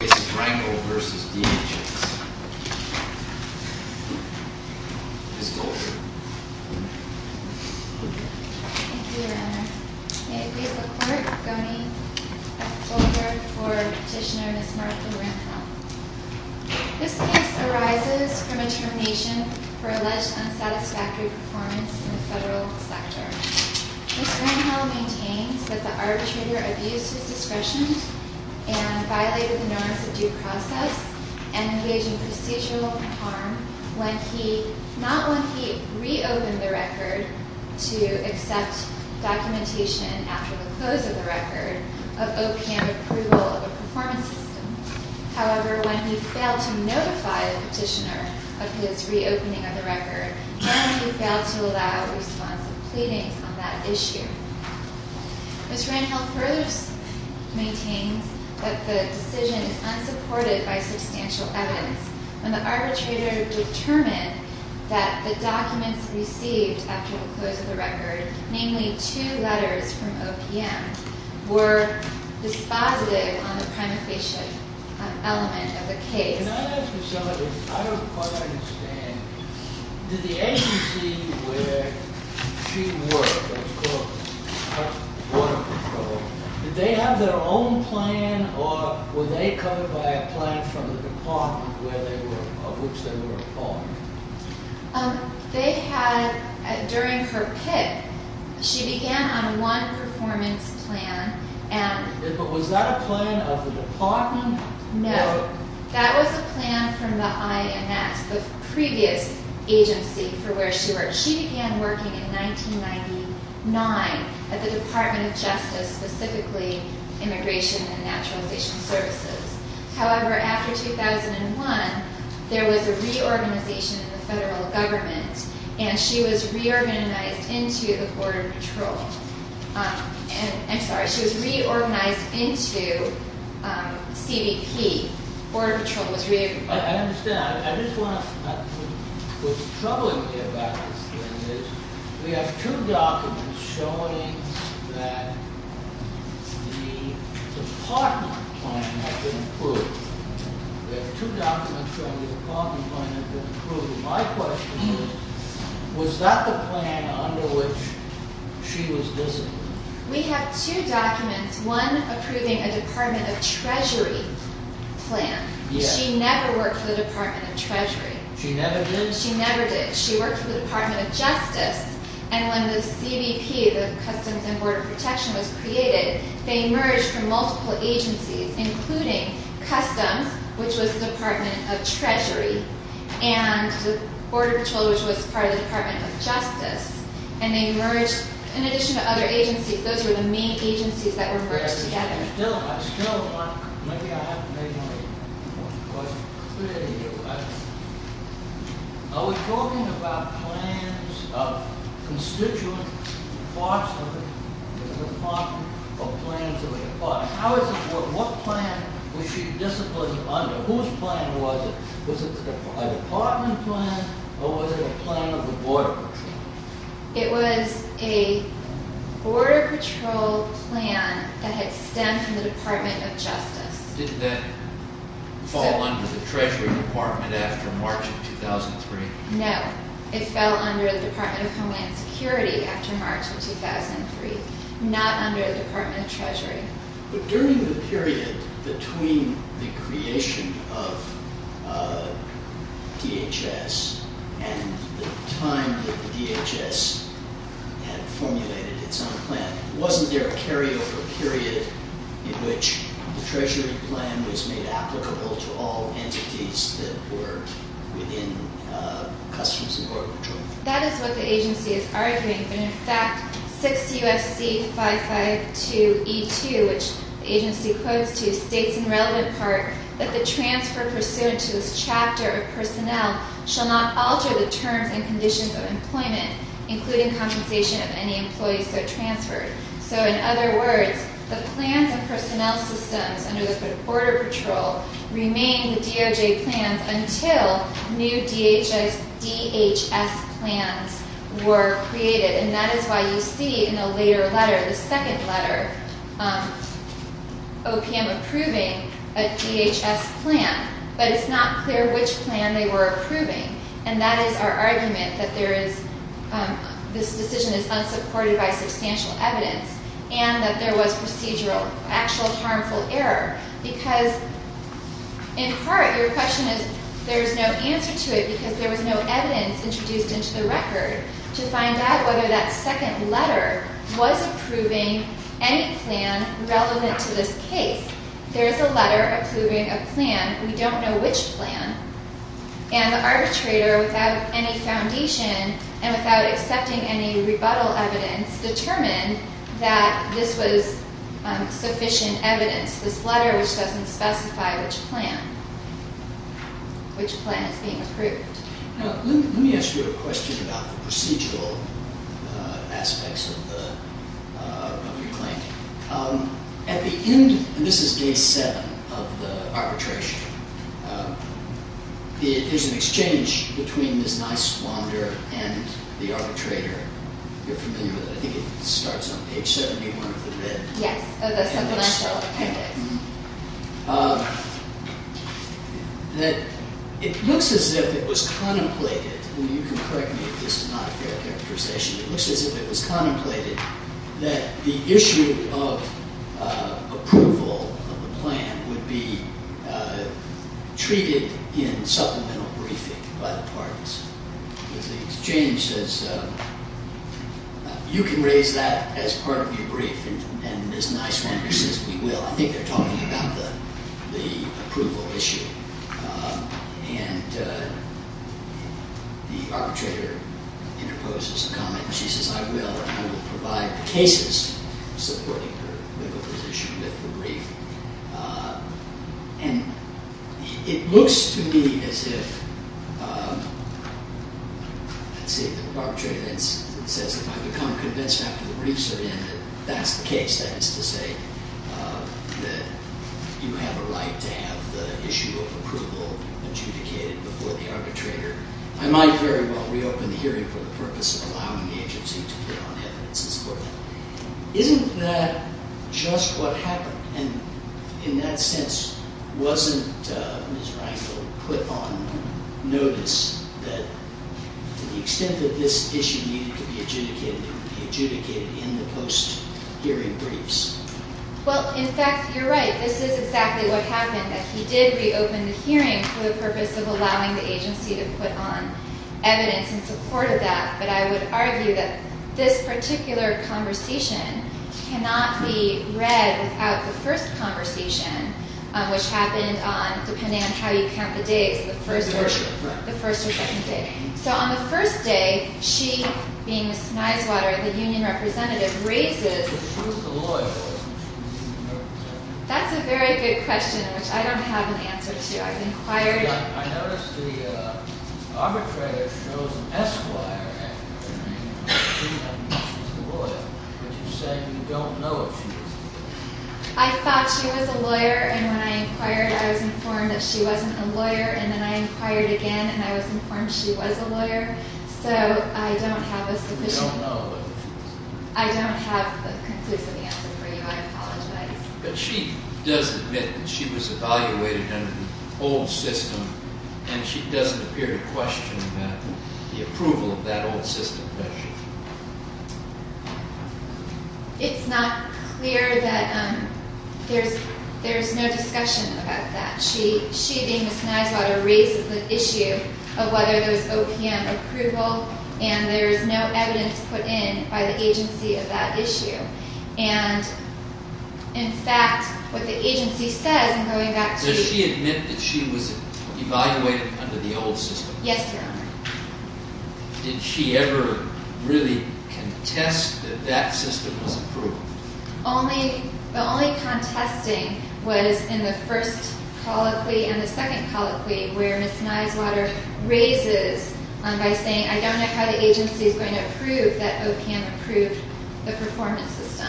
Ms. Goldberg. Thank you, Your Honor. May it please the Court, Goni F. Goldberg for Petitioner Ms. Martha Randall. This case arises from a termination for alleged unsatisfactory performance in the federal sector. Ms. Randall maintains that the arbitrator abused his discretion and violated the norms of due process and engaged in procedural harm not when he re-opened the record to accept documentation after the close of the record of OPM approval of the performance system. However, when he failed to notify the petitioner of his re-opening of the record then he failed to allow a response to pleadings on that issue. Ms. Randall further maintains that the decision is unsupported by substantial evidence when the arbitrator determined that the documents received after the close of the record, namely two letters from OPM, were dispositive on the prima facie element of the case. Ms. Goldberg, may I ask you something? I don't quite understand. Did the agency where she worked, that's called Water Control, did they have their own plan or were they covered by a plan from the department of which they were a part? During her pick, she began on one performance plan. Was that a plan of the department? No, that was a plan from the INS, the previous agency for where she worked. She began working in 1999 at the Department of Justice, specifically Immigration and Naturalization Services. However, after 2001, there was a reorganization of the federal government and she was reorganized into the Border Patrol. I'm sorry, she was reorganized into CBP. Border Patrol was reorganized. I understand. I just want to, what's troubling me about this thing is we have two documents showing that the department plan has been approved. We have two documents showing that the department plan has been approved. My question is, was that the plan under which she was visiting? We have two documents, one approving a Department of Treasury plan. She never worked for the Department of Treasury. She never did? She never did. She worked for the Department of Justice and when the CBP, the Customs and Border Protection was created, they merged from multiple agencies including Customs, which was the Department of Treasury, and the Border Patrol, which was part of the Department of Justice, and they merged in addition to other agencies. Those were the main agencies that were merged together. I still want, maybe I have to make one more question. Are we talking about plans of constituents in the Department of Plans of the Department? What plan was she disciplined under? Whose plan was it? Was it a Department plan or was it a plan of the Border Patrol? It was a Border Patrol plan that had stemmed from the Department of Justice. Did that fall under the Treasury Department after March of 2003? No, it fell under the Department of Homeland Security after March of 2003, not under the Department of Treasury. During the period between the creation of DHS and the time that the DHS had formulated its own plan, wasn't there a carryover period in which the Treasury plan was made applicable to all entities that were within Customs and Border Patrol? That is what the agency is arguing. In fact, 6 U.S.C. 552E2, which the agency quotes to, states in relevant part that the transfer pursuant to this chapter of personnel shall not alter the terms and conditions of employment, including compensation of any employees who are transferred. So in other words, the plans of personnel systems under the Border Patrol remained the DOJ plans until new DHS plans were created. And that is why you see in a later letter, the second letter, OPM approving a DHS plan, but it's not clear which plan they were approving. And that is our argument that this decision is unsupported by substantial evidence and that there was procedural, actual harmful error. Because in part, your question is, there is no answer to it because there was no evidence introduced into the record to find out whether that second letter was approving any plan relevant to this case. There is a letter approving a plan. We don't know which plan. And the arbitrator, without any foundation and without accepting any rebuttal evidence, determined that this was sufficient evidence. This letter which doesn't specify which plan is being approved. Now, let me ask you a question about the procedural aspects of your claim. At the end, and this is day 7 of the arbitration, there's an exchange between Ms. Niswander and the arbitrator. You're familiar with it. I think it starts on page 71 of the red. Yes, that's something I saw. It looks as if it was contemplated, and you can correct me if this is not a fair characterization, it looks as if it was contemplated that the issue of approval of the plan would be treated in supplemental briefing by the parties. The exchange says, you can raise that as part of your brief. And Ms. Niswander says, we will. I think they're talking about the approval issue. And the arbitrator interposes a comment. She says, I will. I will provide the cases supporting her legal position with the brief. And it looks to me as if, let's see, the arbitrator then says, if I become convinced after the briefs are in that that's the case, that is to say that you have a right to have the issue of approval adjudicated before the arbitrator, I might very well reopen the hearing for the purpose of allowing the agency to put on evidence in support of that. Isn't that just what happened? And in that sense, wasn't Ms. Reinfeldt put on notice that to the extent that this issue needed to be adjudicated, it would be adjudicated in the post-hearing briefs? Well, in fact, you're right. This is exactly what happened, that he did reopen the hearing for the purpose of allowing the agency to put on evidence in support of that. But I would argue that this particular conversation cannot be read without the first conversation, which happened on, depending on how you count the days, the first or second day. So on the first day, she, being Ms. Neiswater, the union representative, raises... That's a very good question, which I don't have an answer to. I've inquired... I thought she was a lawyer, and when I inquired, I was informed that she wasn't a lawyer. And then I inquired again, and I was informed she was a lawyer. So I don't have a sufficient... I don't have a conclusive answer for you. I apologize. But she does admit that she was evaluated under the old system, and she doesn't appear to question the approval of that old system, does she? It's not clear that there's no discussion about that. She, being Ms. Neiswater, raises the issue of whether there's OPM approval, and there's no evidence put in by the agency of that issue. And, in fact, what the agency says, and going back to... Does she admit that she was evaluated under the old system? Yes, Your Honor. Did she ever really contest that that system was approved? The only contesting was in the first colloquy and the second colloquy, where Ms. Neiswater raises, by saying, I don't know how the agency is going to approve that OPM approved the performance system.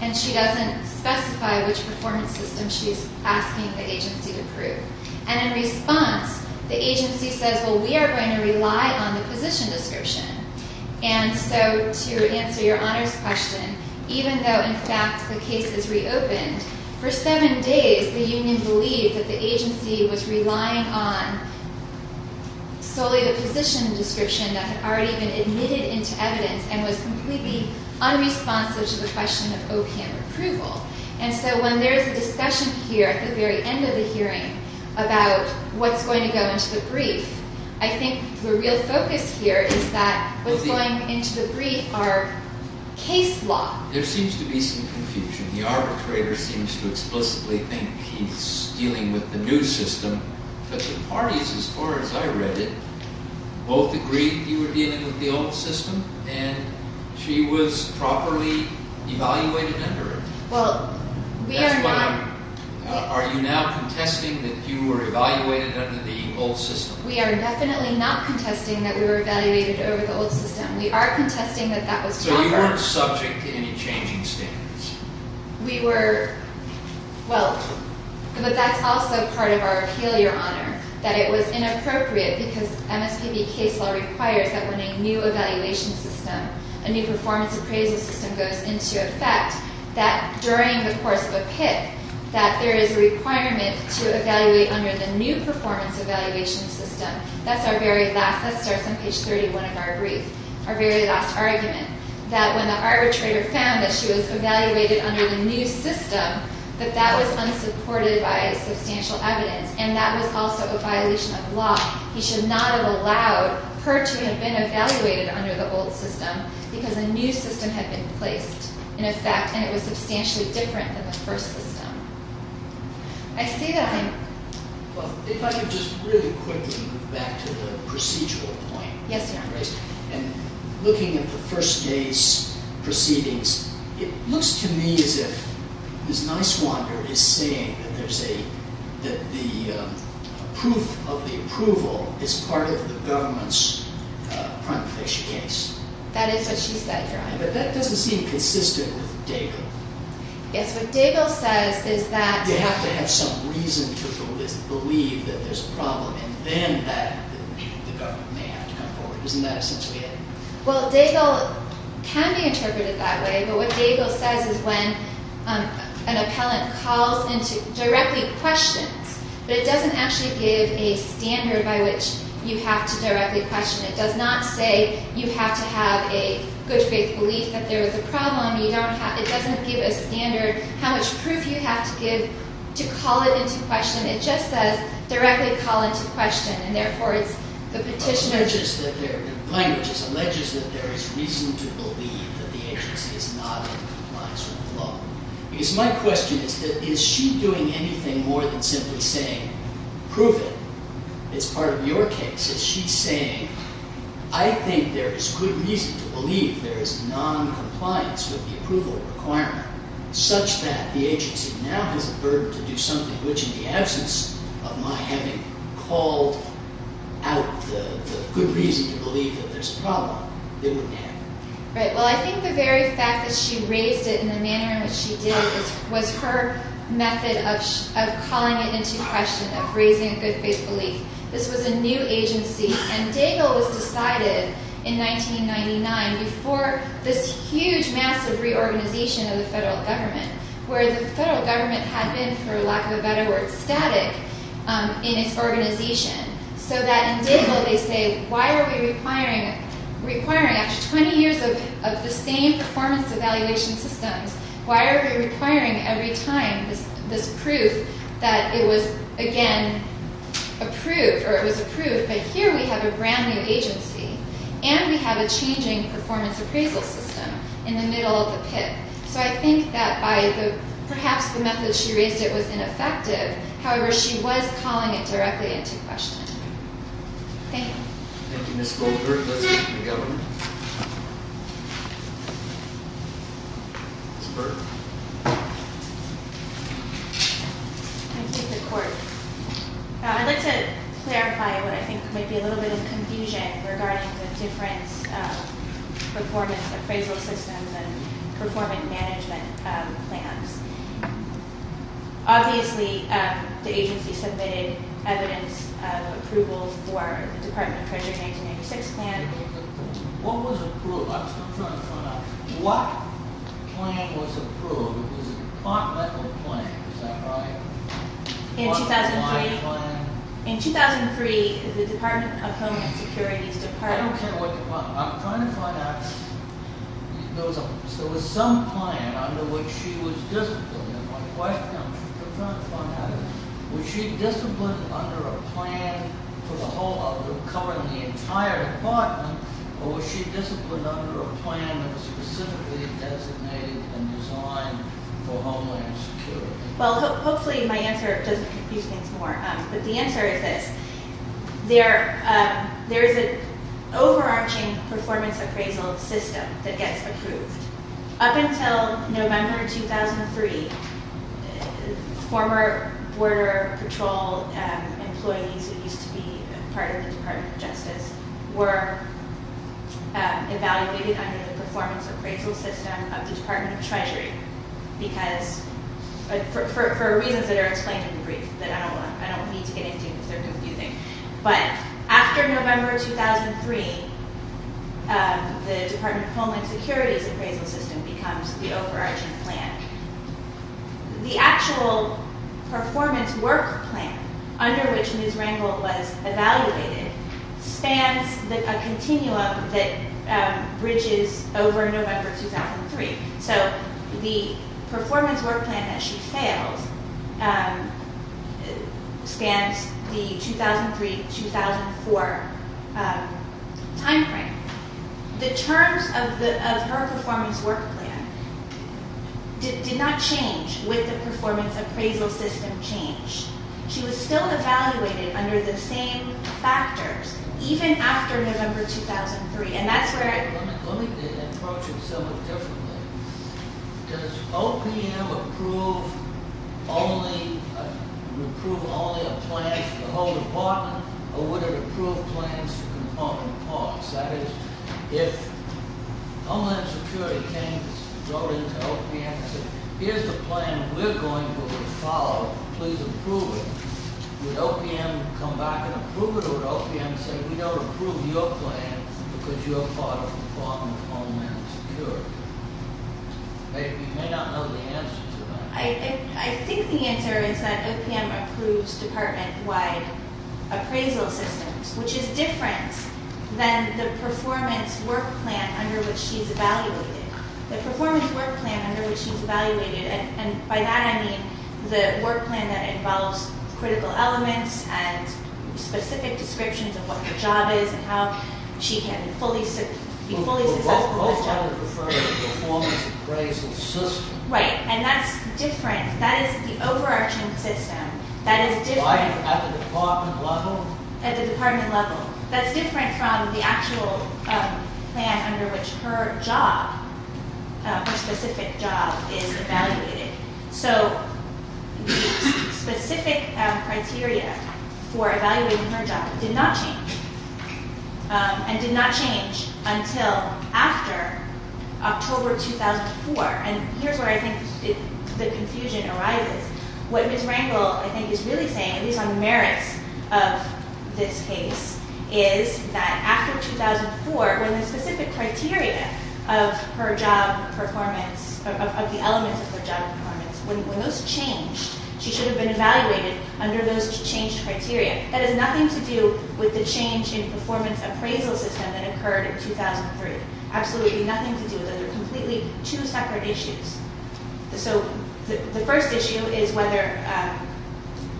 And she doesn't specify which performance system she's asking the agency to approve. And, in response, the agency says, well, we are going to rely on the position description. And so, to answer Your Honor's question, even though, in fact, the case is reopened, for seven days the union believed that the agency was relying on solely the position description that had already been admitted into evidence and was completely unresponsive to the question of OPM approval. And so, when there is a discussion here, at the very end of the hearing, about what's going to go into the brief, I think the real focus here is that what's going into the brief are case law. There seems to be some confusion. The arbitrator seems to explicitly think he's dealing with the new system. But the parties, as far as I read it, both agreed you were dealing with the old system and she was properly evaluated under it. Are you now contesting that you were evaluated under the old system? We are definitely not contesting that we were evaluated under the old system. We are contesting that that was proper. So you weren't subject to any changing standards? We were, well, but that's also part of our appeal, Your Honor, that it was inappropriate because MSPB case law requires that when a new evaluation system, a new performance appraisal system goes into effect, that during the course of a PIP, that there is a requirement to evaluate under the new performance evaluation system. That's our very last, that starts on page 31 of our brief, our very last argument, that when the arbitrator found that she was evaluated under the new system, that that was unsupported by substantial evidence and that was also a violation of law. He should not have allowed her to have been evaluated under the old system because a new system had been placed in effect and it was substantially different than the first system. I see that. Your Honor, if I could just really quickly move back to the procedural point. Yes, Your Honor. And looking at the first case proceedings, it looks to me as if Ms. Niswander is saying that there's a, that the proof of the approval is part of the government's prima facie case. That is what she said, Your Honor. But that doesn't seem consistent with Daigle. Yes, what Daigle says is that... They have to have some reason to believe that there's a problem and then the government may have to come forward. Isn't that essentially it? Well, Daigle can be interpreted that way, but what Daigle says is when an appellant calls into, directly questions, but it doesn't actually give a standard by which you have to directly question. It does not say you have to have a good faith belief that there is a problem. It doesn't give a standard how much proof you have to give to call it into question. It just says directly call into question, and therefore it's the petitioner... Alleges that there is reason to believe that the agency is not in compliance with the law. Because my question is that is she doing anything more than simply saying prove it? It's part of your case. Is she saying I think there is good reason to believe there is noncompliance with the approval requirement such that the agency now has a burden to do something, which in the absence of my having called out the good reason to believe that there's a problem, it wouldn't happen. Right. Well, I think the very fact that she raised it in the manner in which she did was her method of calling it into question, of raising a good faith belief. This was a new agency, and Daigle was decided in 1999 before this huge, massive reorganization of the federal government, where the federal government had been, for lack of a better word, static in its organization. So that in Daigle they say why are we requiring after 20 years of the same performance evaluation systems, why are we requiring every time this proof that it was, again, approved, or it was approved, but here we have a brand new agency, and we have a changing performance appraisal system in the middle of the pit. So I think that by perhaps the method she raised it was ineffective. However, she was calling it directly into question. Thank you. Thank you, Ms. Goldberg. Let's go to the Governor. Ms. Berg. Thank you, Your Court. I'd like to clarify what I think might be a little bit of confusion regarding the different performance appraisal systems and performance management plans. Obviously, the agency submitted evidence of approval for the Department of Treasury 1996 plan. What was approved? I'm still trying to find out. What plan was approved? It was a continental plan, is that right? What kind of plan? In 2003, the Department of Homeland Security's department… I don't care what department. I'm trying to find out. There was some plan under which she was disciplined. My question, I'm trying to find out, was she disciplined under a plan for the whole, covering the entire department, or was she disciplined under a plan that was specifically designated and designed for Homeland Security? Well, hopefully my answer doesn't confuse things more. But the answer is this. There is an overarching performance appraisal system that gets approved. Up until November 2003, former Border Patrol employees, who used to be part of the Department of Justice, were evaluated under the performance appraisal system of the Department of Treasury for reasons that are explained in the brief, that I don't need to get into if they're confusing. But after November 2003, the Department of Homeland Security's appraisal system becomes the overarching plan. The actual performance work plan under which Ms. Rangel was evaluated spans a continuum that bridges over November 2003. So the performance work plan that she failed spans the 2003-2004 timeframe. The terms of her performance work plan did not change with the performance appraisal system change. She was still evaluated under the same factors, even after November 2003. Let me approach it a little differently. Does OPM approve only a plan for the whole department, or would it approve plans for component parts? That is, if Homeland Security came and wrote in to OPM and said, here's the plan we're going to follow, please approve it. Would OPM come back and approve it, or would OPM say, we don't approve your plan because you're a part of the Department of Homeland Security? You may not know the answer to that. I think the answer is that OPM approves department-wide appraisal systems, which is different than the performance work plan under which she's evaluated. The performance work plan under which she's evaluated, and by that I mean the work plan that involves critical elements and specific descriptions of what her job is and how she can be fully successful with this job. But would OPM prefer the performance appraisal system? Right, and that's different. That is the overarching system. At the department level? At the department level. That's different from the actual plan under which her job, her specific job, is evaluated. So the specific criteria for evaluating her job did not change, and did not change until after October 2004. And here's where I think the confusion arises. What Ms. Rangel, I think, is really saying, at least on the merits of this case, is that after 2004, when the specific criteria of her job performance, of the elements of her job performance, when those changed, she should have been evaluated under those changed criteria. That has nothing to do with the change in performance appraisal system that occurred in 2003. Absolutely nothing to do with it. They're completely two separate issues. So the first issue is whether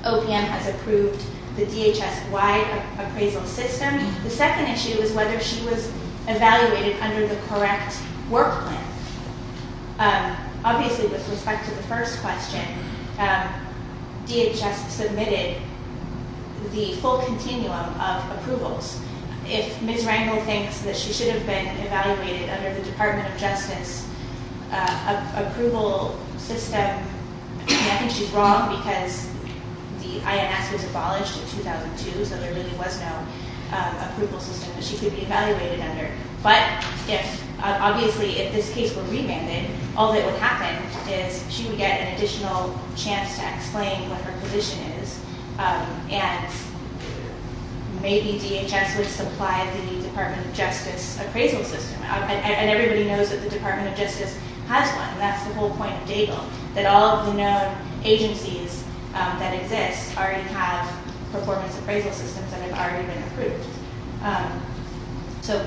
OPM has approved the DHS-wide appraisal system. The second issue is whether she was evaluated under the correct work plan. Obviously, with respect to the first question, DHS submitted the full continuum of approvals. If Ms. Rangel thinks that she should have been evaluated under the Department of Justice approval system, I think she's wrong because the INS was abolished in 2002, so there really was no approval system that she could be evaluated under. But if, obviously, if this case were remanded, all that would happen is she would get an additional chance to explain what her position is, and maybe DHS would supply the Department of Justice appraisal system. And everybody knows that the Department of Justice has one. That's the whole point of DABLE, that all of the known agencies that exist already have performance appraisal systems that have already been approved. So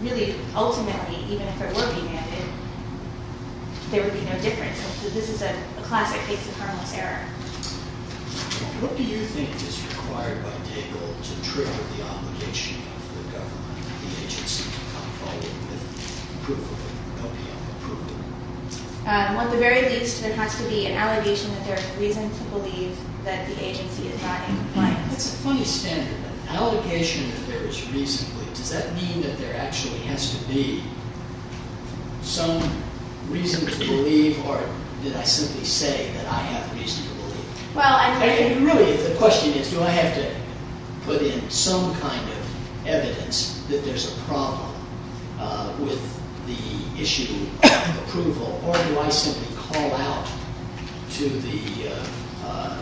really, ultimately, even if it were remanded, there would be no difference. So this is a classic case of harmless error. What do you think is required by DABLE to trigger the obligation of the government, the agency, to come forward with proof of an LPL-approved appraisal? At the very least, there has to be an allegation that there is reason to believe that the agency is not in compliance. That's a funny standard. An allegation that there is reason to believe. Or did I simply say that I have reason to believe? Really, the question is, do I have to put in some kind of evidence that there's a problem with the issue of approval, or do I simply call out to the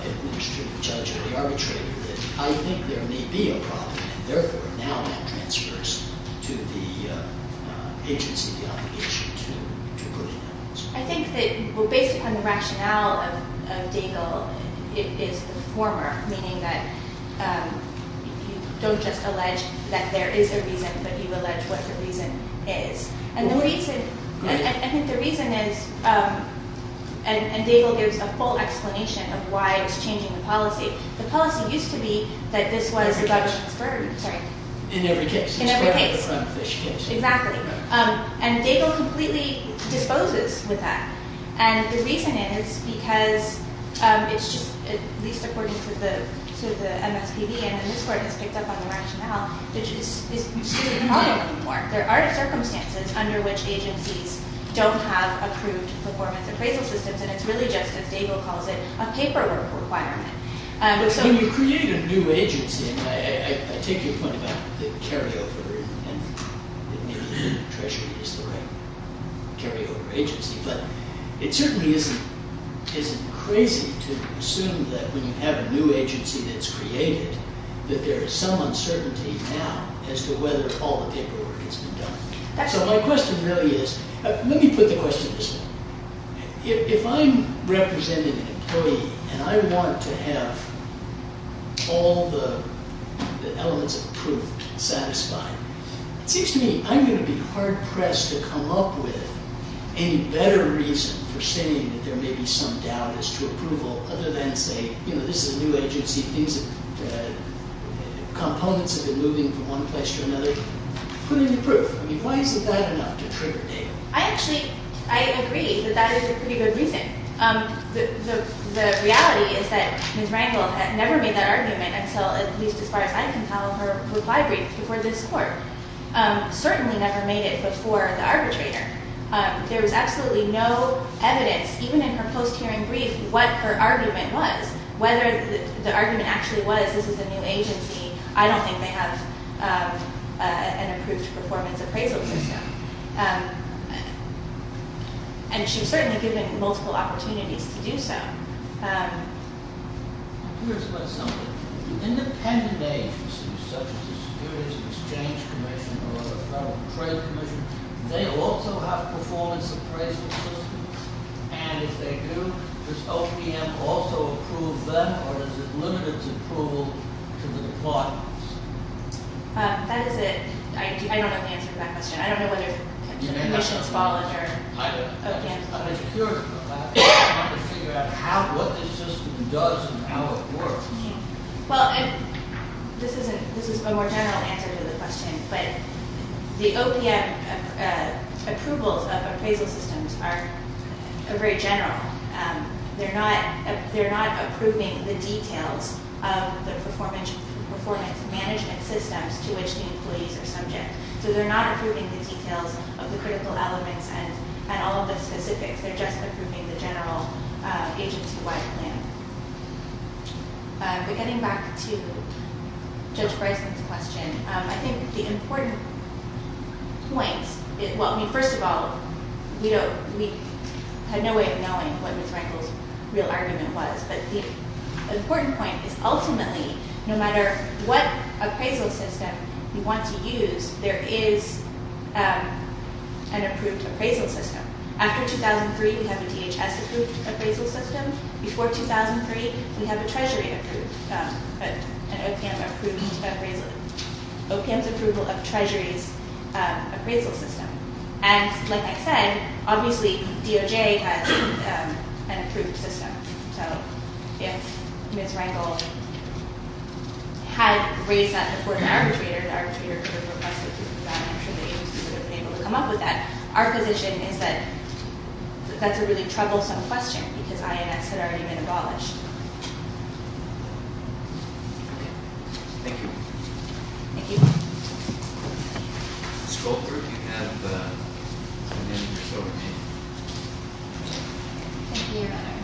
administrative judge or the arbitrator that I think there may be a problem, and therefore now that transfers to the agency the obligation to put in evidence. I think that, well, based upon the rationale of DABLE, it is the former, meaning that you don't just allege that there is a reason, but you allege what the reason is. And I think the reason is, and DABLE gives a full explanation of why it's changing the policy. The policy used to be that this was the government's burden. In every case. In every case. It's better than the brown fish case. Exactly. And DABLE completely disposes with that. And the reason is because it's just, at least according to the MSPB, and then this Court has picked up on the rationale, which is you shouldn't call it anymore. There are circumstances under which agencies don't have approved performance appraisal systems, and it's really just, as DABLE calls it, a paperwork requirement. When you create a new agency, and I take your point about the carryover, and maybe the Treasury is the right carryover agency, but it certainly isn't crazy to assume that when you have a new agency that's created, that there is some uncertainty now as to whether all the paperwork has been done. So my question really is, let me put the question this way. If I'm representing an employee and I want to have all the elements of proof satisfied, it seems to me I'm going to be hard-pressed to come up with any better reason for saying that there may be some doubt as to approval other than, say, you know, this is a new agency. Components have been moving from one place to another. Put in the proof. I mean, why isn't that enough to trigger DABLE? I actually, I agree that that is a pretty good reason. The reality is that Ms. Rangel had never made that argument until at least as far as I can tell, her reply brief before this Court. Certainly never made it before the arbitrator. There was absolutely no evidence, even in her post-hearing brief, what her argument was. Whether the argument actually was this is a new agency, I don't think they have an approved performance appraisal system. And she was certainly given multiple opportunities to do so. I'm curious about something. Independent agencies such as the Securities and Exchange Commission or the Federal Trade Commission, they also have performance appraisal systems, and if they do, does OPM also approve them or is it limited to approval to the deployments? That is a, I don't know the answer to that question. I don't know whether the Commission's followed or OPM. I'm just curious about that. I'd like to figure out what this system does and how it works. Well, this is a more general answer to the question, but the OPM approvals of appraisal systems are very general. They're not approving the details of the performance management systems to which the employees are subject. So they're not approving the details of the critical elements and all of the specifics. They're just approving the general agency-wide plan. But getting back to Judge Breslin's question, I think the important point, well, first of all, we had no way of knowing what Ms. Rankle's real argument was, but the important point is ultimately no matter what appraisal system you want to use, there is an approved appraisal system. After 2003, we have a DHS approved appraisal system. Before 2003, we have a Treasury approved, an OPM approved appraisal. OPM's approval of Treasury's appraisal system. And like I said, obviously DOJ has an approved system. So if Ms. Rankle had raised that before the arbitrator, the arbitrator could have requested that and I'm sure the agency would have been able to come up with that. Our position is that that's a really troublesome question because INS had already been abolished. Thank you. Thank you. Ms. Goldberg, you have a minute or so remaining. Thank you, Your Honor.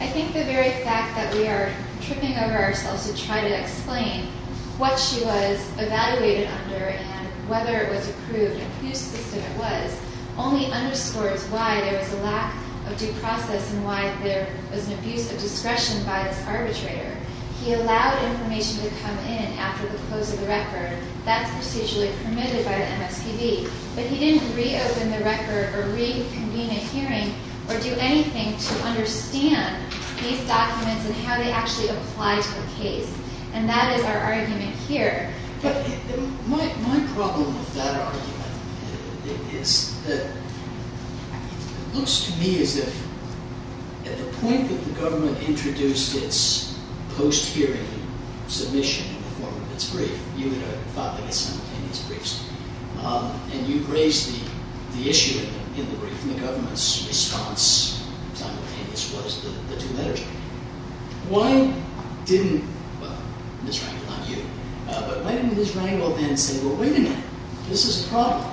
I think the very fact that we are tripping over ourselves to try to explain what she was evaluated under and whether it was approved and whose system it was only underscores why there was a lack of due process and why there was an abuse of discretion by this arbitrator. He allowed information to come in after the close of the record. That's procedurally permitted by the MSPB. But he didn't reopen the record or reconvene a hearing or do anything to understand these documents and how they actually apply to the case. And that is our argument here. My problem with that argument is that it looks to me as if at the point that the government introduced its post-hearing submission in the form of its brief, you had filed a simultaneous brief and you raised the issue in the brief and the government's response simultaneously was the two-letter judgment. Why didn't Ms. Rangel then say, well, wait a minute, this is a problem.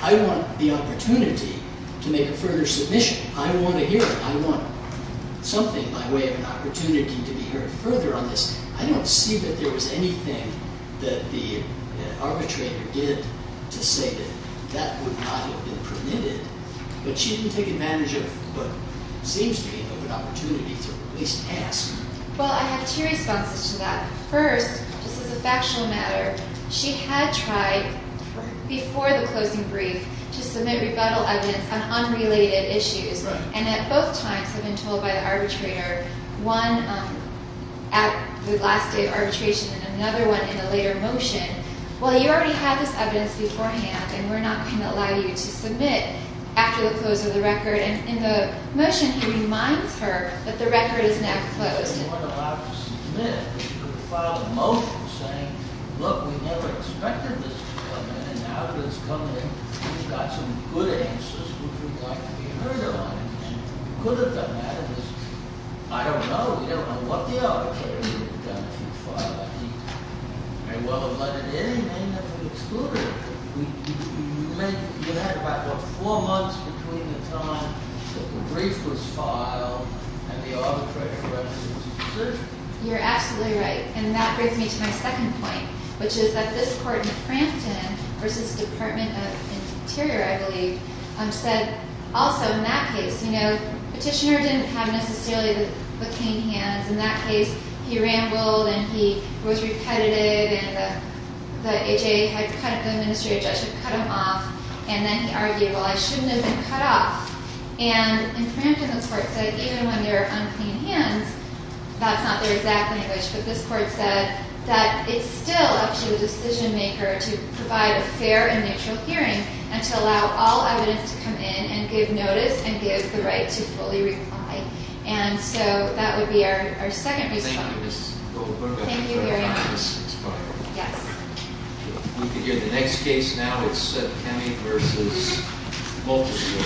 I want the opportunity to make a further submission. I want a hearing. I want something by way of an opportunity to be heard further on this. I don't see that there was anything that the arbitrator did to say that that would not have been permitted. But she didn't take advantage of what seems to me of an opportunity to at least ask. Well, I have two responses to that. First, just as a factional matter, she had tried before the closing brief to submit rebuttal evidence on unrelated issues. Right. And at both times had been told by the arbitrator, one at the last day of arbitration and another one in the later motion, well, you already had this evidence beforehand and we're not going to allow you to submit after the close of the record. And in the motion, he reminds her that the record is now closed. You weren't allowed to submit because you filed a motion saying, look, we never expected this to happen. And now that it's coming in, we've got some good answers which would like to be heard on it. Could have done that. I don't know. We don't know what the arbitrator would have done if he'd filed a motion. And whether to let it in may never have excluded it. We had about, what, four months between the time that the brief was filed and the arbitrator presented his decision. You're absolutely right. And that brings me to my second point, which is that this court in Frampton versus Department of Interior, I believe, said also in that case, you know, and in that case, he rambled and he was repetitive and the H.A. had cut him, the administrative judge had cut him off, and then he argued, well, I shouldn't have been cut off. And in Frampton, the court said, even when there are unclean hands, that's not their exact language, but this court said that it's still up to the decision maker to provide a fair and neutral hearing and to allow all evidence to come in and give notice and give the right to fully reply. And so that would be our second- Thank you, Ms. Goldberg. Thank you very much. Yes. We can hear the next case now. It's Cammie versus Mulchers.